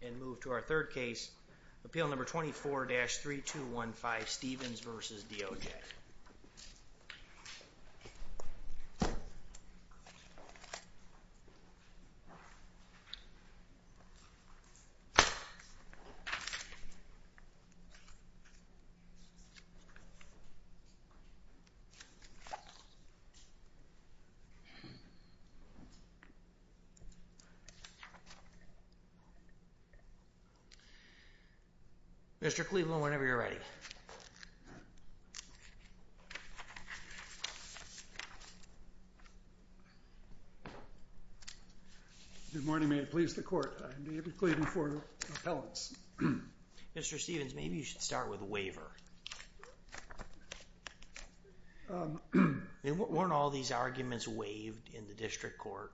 And move to our third case, Appeal Number 24-3215 Stevens v. DOJ. Mr. Cleveland, whenever you're ready. Good morning. May it please the court. I'm David Cleveland for appellants. Mr. Stevens, maybe you should start with a waiver. I mean, weren't all these arguments waived in the district court?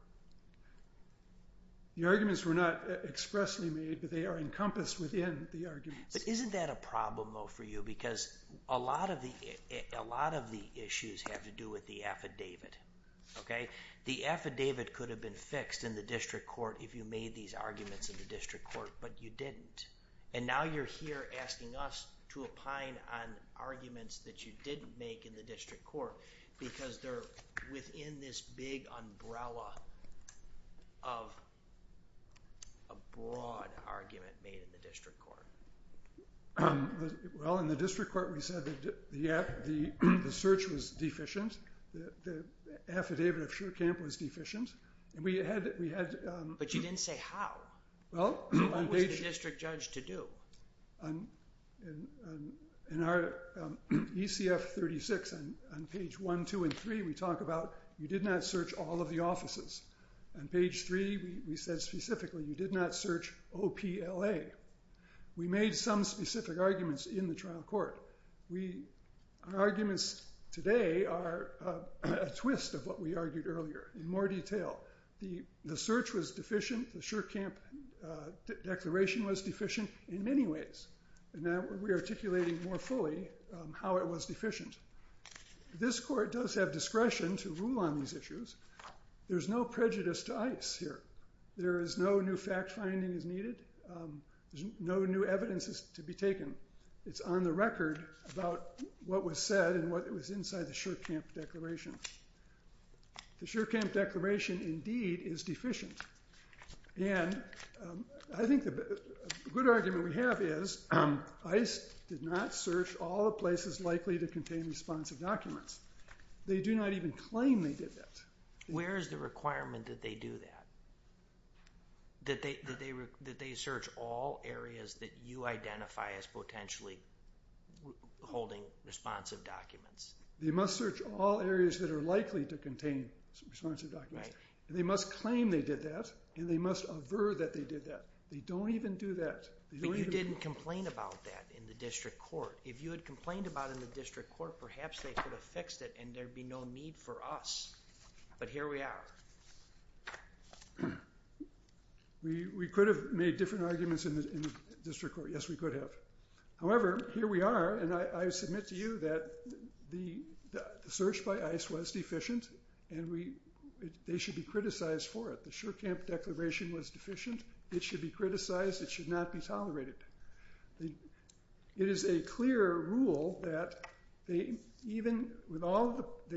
The arguments were not expressly made, but they are encompassed within the arguments. But isn't that a problem, though, for you? Because a lot of the issues have to do with the affidavit, okay? The affidavit could have been fixed in the district court if you made these arguments in the district court, but you didn't. And now you're here asking us to opine on arguments that you didn't make in the district court because they're within this big umbrella of a broad argument made in the district court. Well, in the district court, we said that the search was deficient, the affidavit of Shurkamp was deficient, and we had... But you didn't say how. Well, on page... So what was the district judge to do? In our ECF 36, on page one, two, and three, we talk about you did not search all of the On page three, we said specifically, you did not search OPLA. We made some specific arguments in the trial court. Arguments today are a twist of what we argued earlier in more detail. The search was deficient, the Shurkamp declaration was deficient. In many ways. And now we're re-articulating more fully how it was deficient. This court does have discretion to rule on these issues. There's no prejudice to ICE here. There is no new fact-finding is needed. No new evidence is to be taken. It's on the record about what was said and what was inside the Shurkamp declaration. The Shurkamp declaration indeed is deficient. And I think the good argument we have is ICE did not search all the places likely to contain responsive documents. They do not even claim they did that. Where is the requirement that they do that? That they search all areas that you identify as potentially holding responsive documents? They must search all areas that are likely to contain responsive documents. They must claim they did that and they must aver that they did that. They don't even do that. But you didn't complain about that in the district court. If you had complained about it in the district court, perhaps they could have fixed it and there would be no need for us. But here we are. We could have made different arguments in the district court, yes we could have. However, here we are and I submit to you that the search by ICE was deficient and they should be criticized for it. The Shurkamp declaration was deficient. It should be criticized. It should not be tolerated. It is a clear rule that they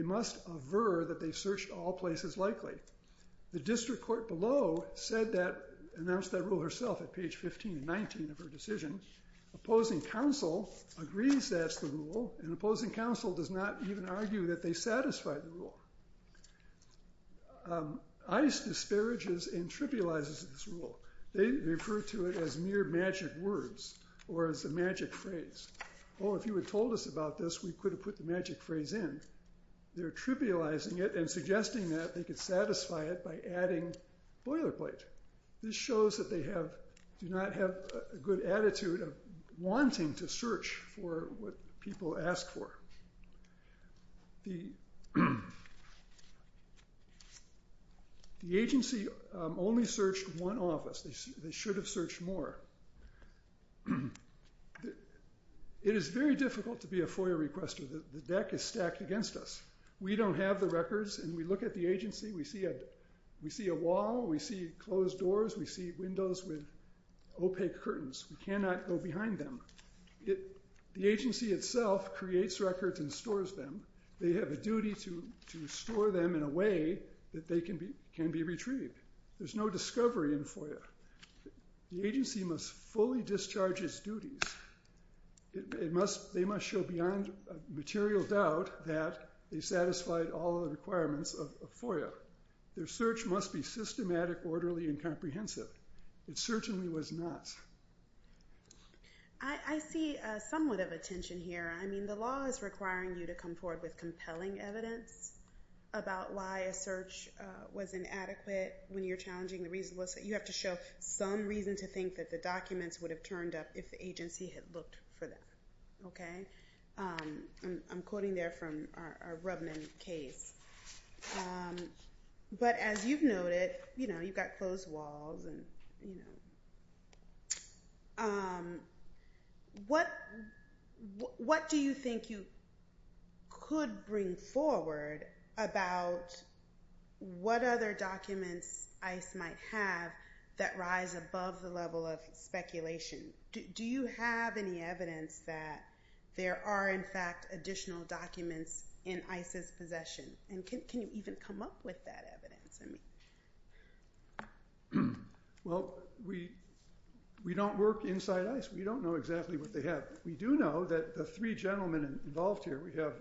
must aver that they searched all places likely. The district court below announced that rule herself at page 15 and 19 of her decision. Opposing counsel agrees that's the rule and opposing counsel does not even argue that they satisfy the rule. ICE disparages and trivializes this rule. They refer to it as mere magic words or as a magic phrase. Oh, if you had told us about this, we could have put the magic phrase in. They're trivializing it and suggesting that they could satisfy it by adding boilerplate. This shows that they do not have a good attitude of wanting to search for what people ask for. The agency only searched one office. They should have searched more. It is very difficult to be a FOIA requester. The deck is stacked against us. We don't have the records and we look at the agency, we see a wall, we see closed doors, we see windows with opaque curtains. We cannot go behind them. The agency itself creates records and stores them. They have a duty to store them in a way that they can be retrieved. There's no discovery in FOIA. The agency must fully discharge its duties. They must show beyond material doubt that they satisfied all the requirements of FOIA. Their search must be systematic, orderly, and comprehensive. It certainly was not. I see somewhat of a tension here. I mean, the law is requiring you to come forward with compelling evidence about why a search was inadequate. When you're challenging the reason, you have to show some reason to think that the documents would have turned up if the agency had looked for them. Okay? I'm quoting there from our Rubman case. But as you've noted, you know, you've got closed walls and, you know. What do you think you could bring forward about what other documents ICE might have that rise above the level of speculation? Do you have any evidence that there are, in fact, additional documents in ICE's possession? And can you even come up with that evidence? Well, we don't work inside ICE. We don't know exactly what they have. We do know that the three gentlemen involved here, we have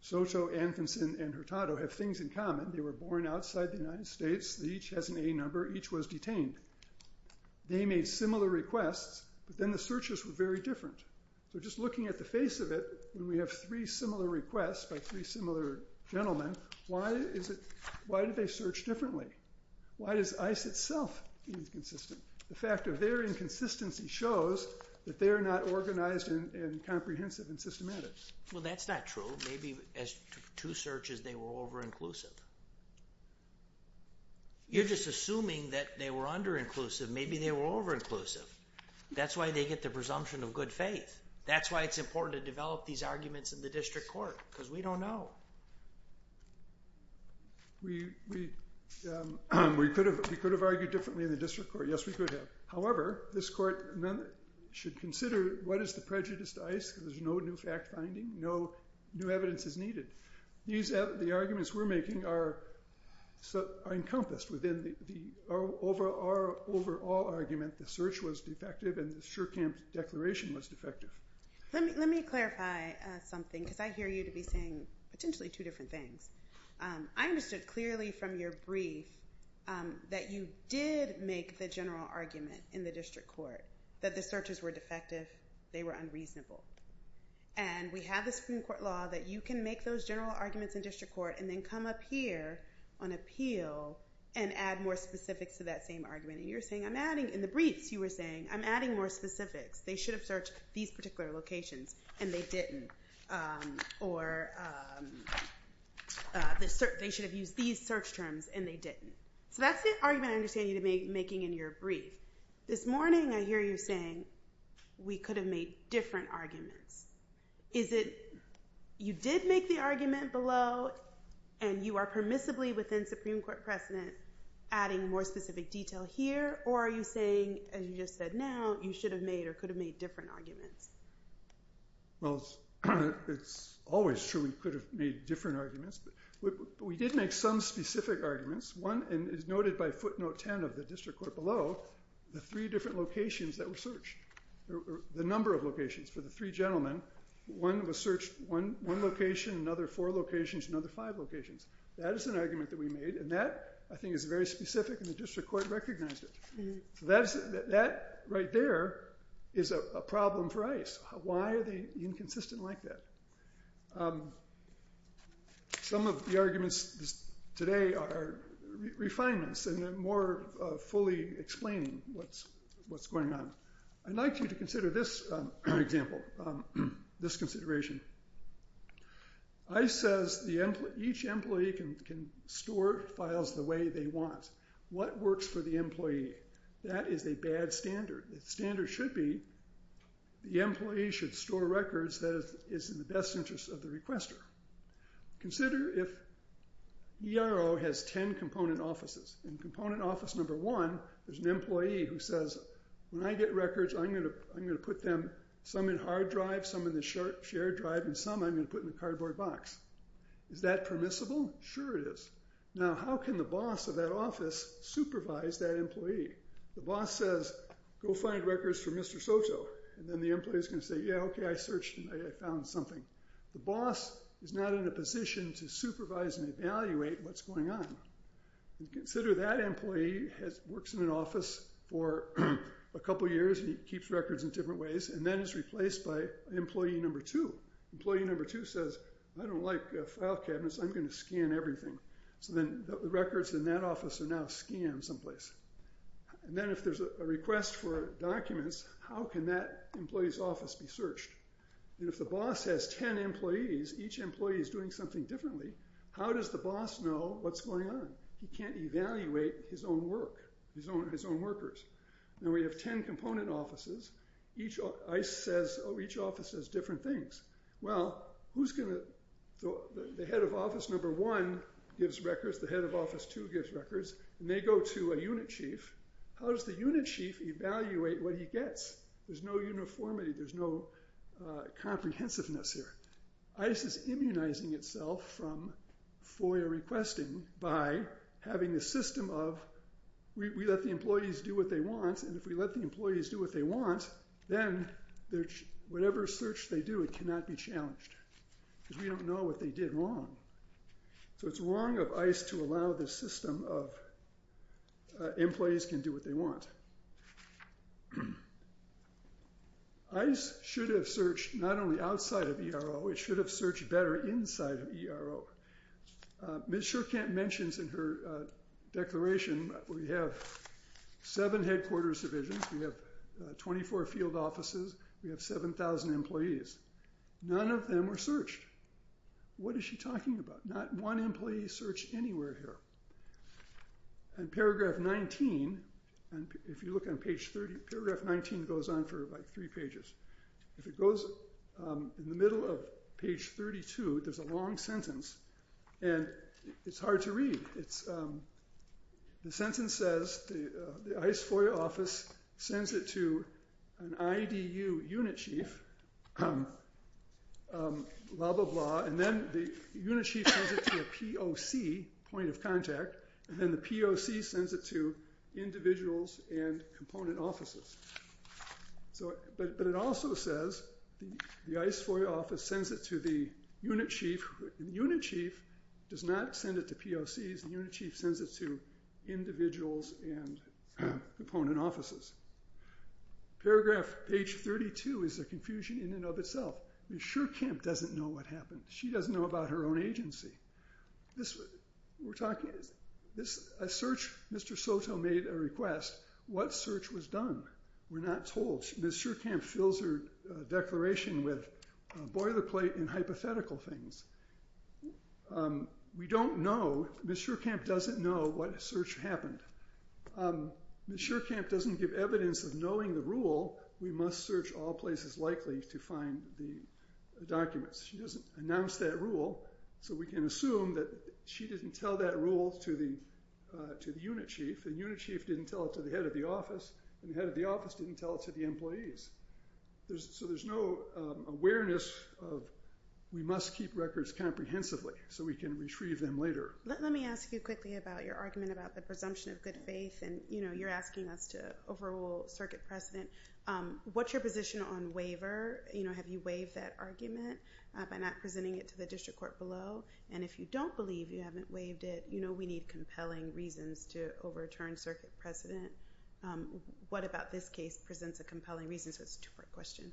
Soto, Anfinson, and Hurtado, have things in common. They were born outside the United States. Each has an A number. Each was detained. They made similar requests, but then the searches were very different. So just looking at the face of it, when we have three similar requests by three similar gentlemen, why is it, why did they search differently? Why does ICE itself be inconsistent? The fact of their inconsistency shows that they're not organized and comprehensive and systematic. Well, that's not true. Maybe as to searches, they were over-inclusive. You're just assuming that they were under-inclusive. Maybe they were over-inclusive. That's why they get the presumption of good faith. That's why it's important to develop these arguments in the district court, because we don't know. We could have argued differently in the district court. Yes, we could have. However, this court should consider what is the prejudice to ICE, because there's no new fact-finding. No new evidence is needed. The arguments we're making are encompassed within the overall argument the search was defective and the Shurkamp declaration was defective. Let me clarify something, because I hear you to be saying potentially two different things. I understood clearly from your brief that you did make the general argument in the district court that the searches were defective. They were unreasonable. And we have this Supreme Court law that you can make those general arguments in district court and then come up here on appeal and add more specifics to that same argument. And you're saying, in the briefs, you were saying, I'm adding more specifics. They should have searched these particular locations, and they didn't. Or they should have used these search terms, and they didn't. So that's the argument I understand you're making in your brief. This morning, I hear you saying, we could have made different arguments. Is it you did make the argument below, and you are permissibly within Supreme Court precedent adding more specific detail here? Or are you saying, as you just said now, you should have made or could have made different arguments? Well, it's always true we could have made different arguments. We did make some specific arguments. One is noted by footnote 10 of the district court below, the three different locations that were searched, the number of locations for the three gentlemen. One was searched one location, another four locations, another five locations. That is an argument that we made. And that, I think, is very specific, and the district court recognized it. That right there is a problem for ICE. Why are they inconsistent like that? Some of the arguments today are refinements, and they're more fully explaining what's going on. I'd like you to consider this example, this consideration. ICE says each employee can store files the way they want. What works for the employee? That is a bad standard. The standard should be the employee should store records that is in the best interest of the requester. Consider if ERO has 10 component offices. In component office number one, there's an employee who says, when I get records, I'm going to put them, some in hard drive, some in the shared drive, and some I'm going to put in a cardboard box. Is that permissible? Sure it is. Now, how can the boss of that office supervise that employee? The boss says, go find records for Mr. Soto. And then the employee is going to say, yeah, OK, I searched, I found something. The boss is not in a position to supervise and evaluate what's going on. Consider that employee works in an office for a couple years. He keeps records in different ways, and then is replaced by employee number two. Employee number two says, I don't like file cabinets. I'm going to scan everything. So then the records in that office are now scanned someplace. And then if there's a request for documents, how can that employee's office be searched? And if the boss has 10 employees, each employee is doing something differently, how does the boss know what's going on? He can't evaluate his own work, his own workers. Now, we have 10 component offices. Each office says different things. Well, the head of office number one gives records. The head of office two gives records. And they go to a unit chief. How does the unit chief evaluate what he gets? There's no uniformity. There's no comprehensiveness here. ICE is immunizing itself from FOIA requesting by having a system of, we let the employees do what they want. And if we let the employees do what they want, then whatever search they do, it cannot be challenged. We don't know what they did wrong. So it's wrong of ICE to allow this system of employees can do what they want. ICE should have searched not only outside of ERO, it should have searched better inside of ERO. Ms. Shurkamp mentions in her declaration we have seven headquarters divisions. We have 24 field offices. We have 7,000 employees. None of them were searched. What is she talking about? Not one employee searched anywhere here. And paragraph 19, if you look on page 30, paragraph 19 goes on for like three pages. If it goes in the middle of page 32, there's a long sentence. And it's hard to read. The sentence says the ICE FOIA office sends it to an IDU unit chief, blah, blah, blah. And then the unit chief sends it to a POC, point of contact. And then the POC sends it to individuals and component offices. But it also says the ICE FOIA office sends it to the unit chief. The unit chief does not send it to POCs. The unit chief sends it to individuals and component offices. Paragraph page 32 is a confusion in and of itself. Ms. Shurkamp doesn't know what happened. She doesn't know about her own agency. Mr. Soto made a request. What search was done? We're not told. Ms. Shurkamp fills her declaration with a boilerplate in hypothetical things. We don't know. Ms. Shurkamp doesn't know what search happened. Ms. Shurkamp doesn't give evidence of knowing the rule, we must search all places likely to find the documents. She doesn't announce that rule. So we can assume that she didn't tell that rule to the unit chief, and unit chief didn't tell it to the head of the office, and the head of the office didn't tell it to the employees. So there's no awareness of we must keep records comprehensively so we can retrieve them later. Let me ask you quickly about your argument about the presumption of good faith. And you're asking us to overrule circuit precedent. What's your position on waiver? Have you waived that argument by not presenting it to the district court below? And if you don't believe you haven't waived it, we need compelling reasons to overturn circuit precedent. What about this case presents a compelling reason? So it's a two-part question.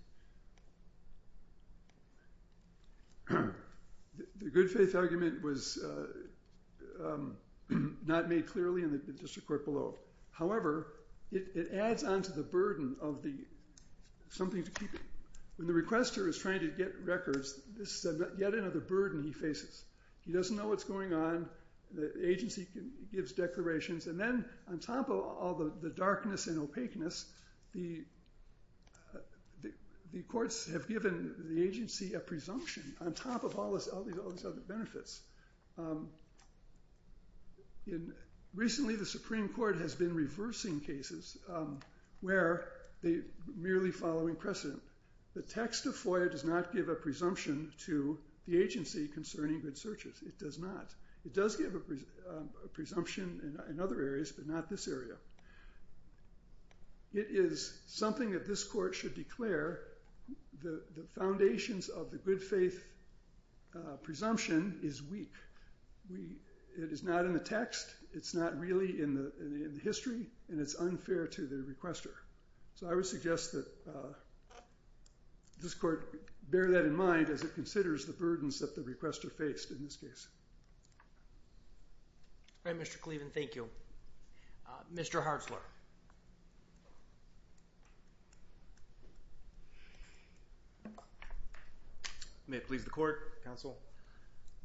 And the good faith argument was not made clearly in the district court below. However, it adds on to the burden of something to keep it. When the requester is trying to get records, this is yet another burden he faces. He doesn't know what's going on. The agency gives declarations. And then on top of all the darkness and opaqueness, the courts have given the agency a presumption on top of all these other benefits. Recently, the Supreme Court has been reversing cases where they're merely following precedent. The text of FOIA does not give a presumption to the agency concerning good searches. It does not. It does give a presumption in other areas, but not this area. It is something that this court should declare. The foundations of the good faith presumption is weak. It is not in the text. It's not really in the history. And it's unfair to the requester. So I would suggest that this court bear that in mind as it considers the burdens that the requester faced in this case. All right, Mr. Cleavon. Thank you. Mr. Hartzler. May it please the court, counsel.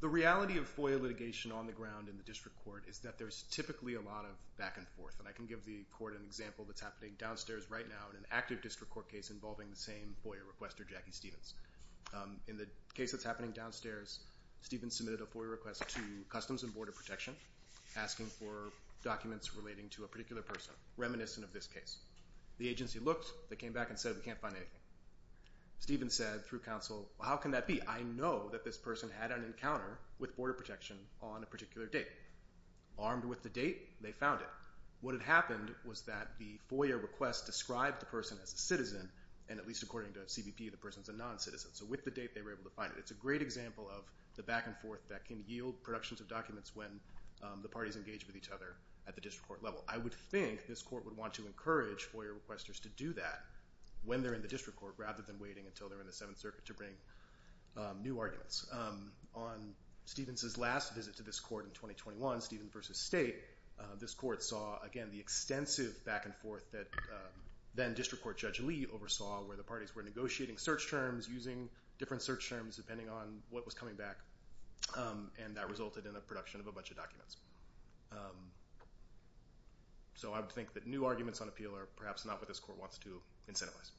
The reality of FOIA litigation on the ground in the district court is that there's typically a lot of back and forth. And I can give the court an example that's happening downstairs right now in an active district court case involving the same FOIA requester, Jackie Stevens. In the case that's happening downstairs, Stevens submitted a FOIA request to Customs and Border Protection asking for documents relating to a particular person reminiscent of this case. The agency looked. They came back and said, we can't find anything. Stevens said through counsel, how can that be? I know that this person had an encounter with Border Protection on a particular date. Armed with the date, they found it. What had happened was that the FOIA request described the person as a citizen, and at least according to CBP, the person's a non-citizen. So with the date, they were able to find it. It's a great example of the back and forth that can yield productions of documents when the parties engage with each other at the district court level. I would think this court would want to encourage FOIA requesters to do that when they're in the district court rather than waiting until they're in the Seventh Circuit to bring new arguments. On Stevens's last visit to this court in 2021, Stevens v. State, this court saw, again, the extensive back and forth that then district court judge Lee oversaw where the parties were negotiating search terms, using different search terms depending on what was coming back, and that resulted in the production of a bunch of documents. So I would think that new arguments on appeal are perhaps not what this court wants to incentivize.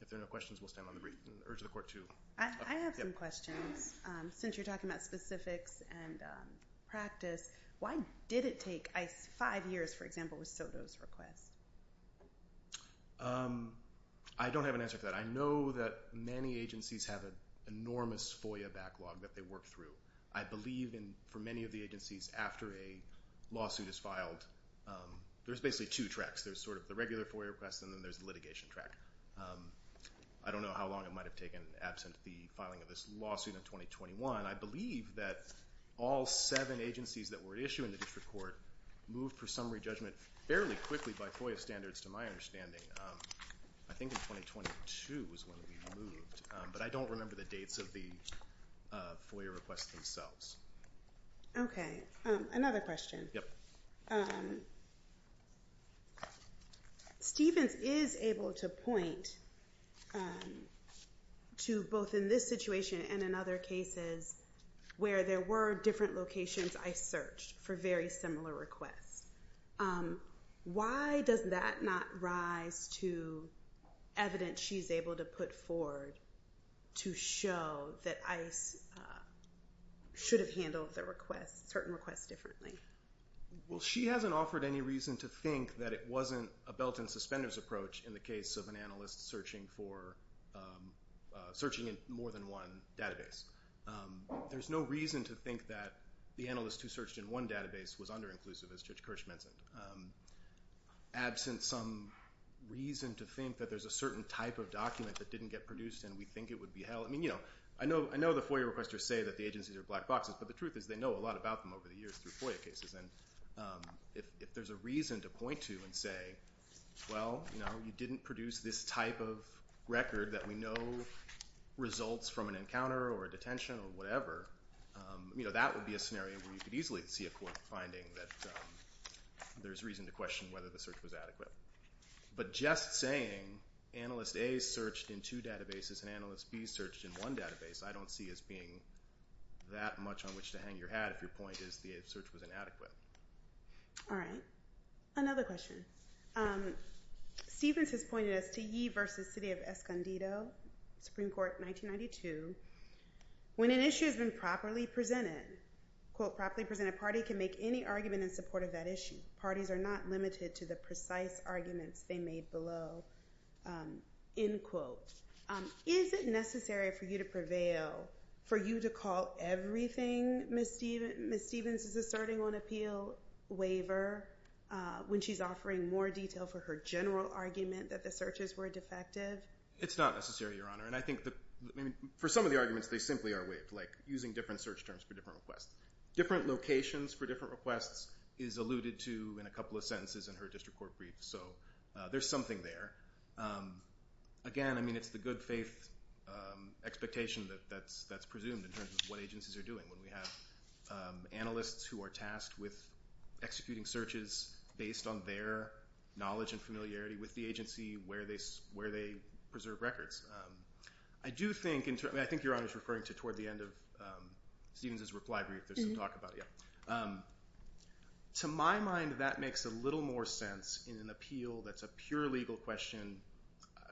If there are no questions, we'll stand on the urge of the court to. I have some questions. Since you're talking about specifics and practice, why did it take five years, for example, with Soto's request? I don't have an answer for that. I know that many agencies have an enormous FOIA backlog that they work through. I believe for many of the agencies, after a lawsuit is filed, there's basically two tracks. There's sort of the regular FOIA request, and then there's the litigation track. I don't know how long it might have taken absent the filing of this lawsuit in 2021. I believe that all seven agencies that were issued in the district court moved for summary judgment fairly quickly by FOIA standards to my understanding. I think in 2022 was when we moved. But I don't remember the dates of the FOIA requests themselves. OK. Another question. Stevens is able to point to both in this situation and in other cases where there were different locations I searched for very similar requests. Why does that not rise to evidence she's able to put forward to show that ICE should have handled certain requests differently? Well, she hasn't offered any reason to think that it wasn't a belt and suspenders approach in the case of an analyst searching in more than one database. There's no reason to think that the analyst who searched in one database was under-inclusive, as Judge Kirsch mentioned. Absent some reason to think that there's a certain type of document that didn't get produced and we think it would be held. I know the FOIA requesters say that the agencies are black boxes. But the truth is they know a lot about them over the years through FOIA cases. And if there's a reason to point to and say, well, you didn't produce this type of record that we know results from an encounter or a detention or whatever, that would be a scenario where you could easily see a court finding that there's reason to question whether the search was adequate. But just saying analyst A searched in two databases and analyst B searched in one database, I don't see as being that much on which to hang your hat if your point is the search was inadequate. All right. Another question. Stephens has pointed us to Yee versus City of Escondido, Supreme Court, 1992. When an issue has been properly presented, quote, properly presented party can make any argument in support of that issue. Parties are not limited to the precise arguments they made below, end quote. Is it necessary for you to prevail, for you to call everything Ms. Stephens is asserting on appeal waiver when she's offering more detail for her general argument that the searches were defective? It's not necessary, Your Honor. For some of the arguments, they simply are waived, like using different search terms for different requests. Different locations for different requests is alluded to in a couple of sentences in her district court brief. So there's something there. Again, I mean, it's the good faith expectation that's presumed in terms of what agencies are doing when we have analysts who are tasked with executing searches based on their knowledge and familiarity with the agency where they preserve records. I do think, and I think Your Honor is referring to toward the end of Stephens' reply brief, there's some talk about it. To my mind, that makes a little more sense in an appeal that's a pure legal question.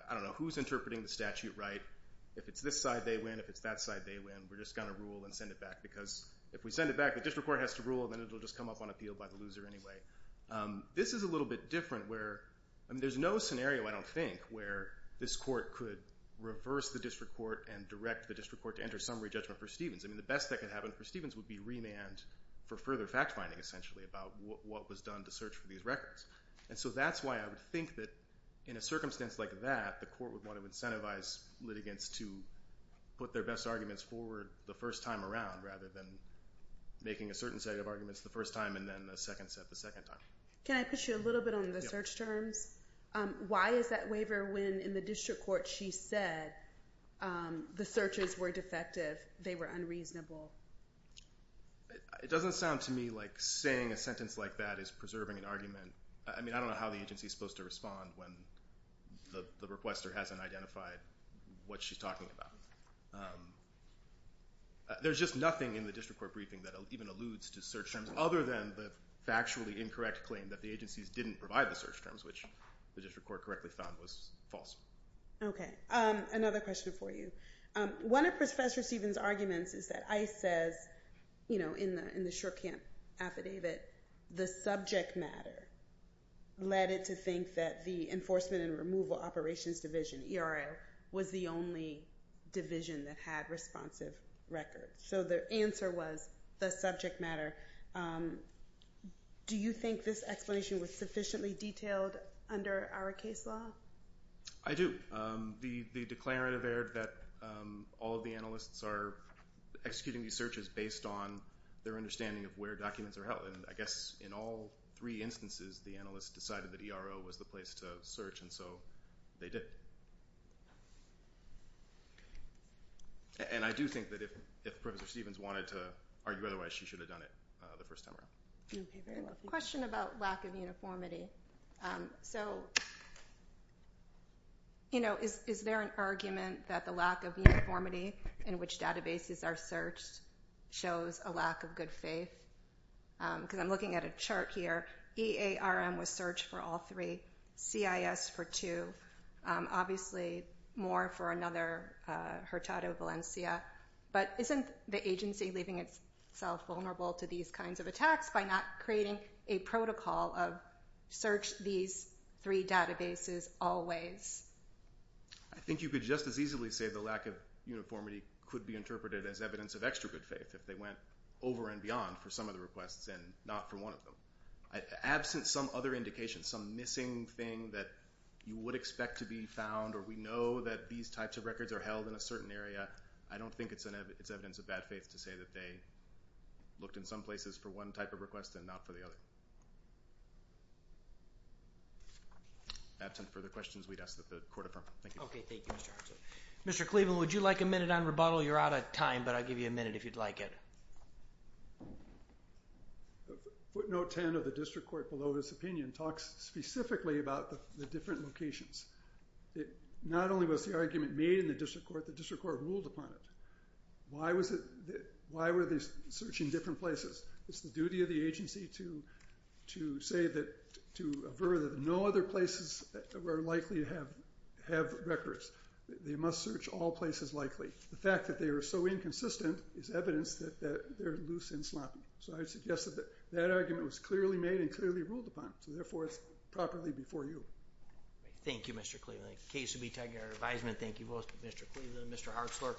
I don't know who's interpreting the statute right. If it's this side, they win. If it's that side, they win. We're just going to rule and send it back. Because if we send it back, the district court has to rule, and then it'll just come up on appeal by the loser anyway. This is a little bit different where, I mean, there's no scenario, I don't think, where this court could reverse the district court and direct the district court to enter summary judgment for Stephens. I mean, the best that could happen for Stephens would be remand for further fact finding, essentially, about what was done to search for these records. And so that's why I would think that in a circumstance like that, the court would want to incentivize litigants to put their best arguments forward the first time around, rather than making a certain set of arguments the first time and then the second set the second time. Can I push you a little bit on the search terms? Why is that waiver when, in the district court, she said the searches were defective, they were unreasonable? It doesn't sound to me like saying a sentence like that is preserving an argument. I mean, I don't know how the agency is supposed to respond when the requester hasn't identified what she's talking about. There's just nothing in the district court briefing that even alludes to search terms, other than the factually incorrect claim that the agencies didn't provide the search terms, which the district court correctly found was false. OK. Another question for you. One of Professor Stevens' arguments is that ICE says, in the Shurkamp affidavit, the subject matter led it to think that the Enforcement and Removal Operations Division, ERO, was the only division that had responsive records. So the answer was the subject matter. Do you think this explanation was sufficiently detailed under our case law? I do. The declarative erred that all of the analysts are executing these searches based on their understanding of where documents are held. And I guess, in all three instances, the analyst decided that ERO was the place to search, and so they did. And I do think that if Professor Stevens wanted to argue otherwise, she should have done it the first time around. Question about lack of uniformity. So is there an argument that the lack of uniformity in which databases are searched shows a lack of good faith? Because I'm looking at a chart here. EARM was searched for all three. CIS for two. Obviously, more for another, Hurtado Valencia. But isn't the agency leaving itself vulnerable to these kinds of attacks by not creating a protocol of search these three databases always? I think you could just as easily say the lack of uniformity could be interpreted as evidence of extra good faith if they went over and beyond for some of the requests and not for one of them. Absent some other indication, some missing thing that you would expect to be found, or we know that these types of records are held in a certain area, I don't think it's evidence of bad faith to say that they looked in some places for one type of request and not for the other. Absent further questions, we'd ask that the court affirm. Thank you. OK, thank you, Mr. Hartzler. Mr. Cleveland, would you like a minute on rebuttal? You're out of time, but I'll give you a minute if you'd like it. Footnote 10 of the district court below this opinion talks specifically about the different locations. Not only was the argument made in the district court, but the district court ruled upon it. Why were they searching different places? It's the duty of the agency to say that, to avert that no other places are likely to have records. They must search all places likely. The fact that they are so inconsistent is evidence that they're loose and sloppy. So I would suggest that that argument was clearly made and clearly ruled upon. So therefore, it's properly before you. Thank you, Mr. Cleveland. The case will be taken under advisement. Thank you both, Mr. Cleveland and Mr. Hartzler.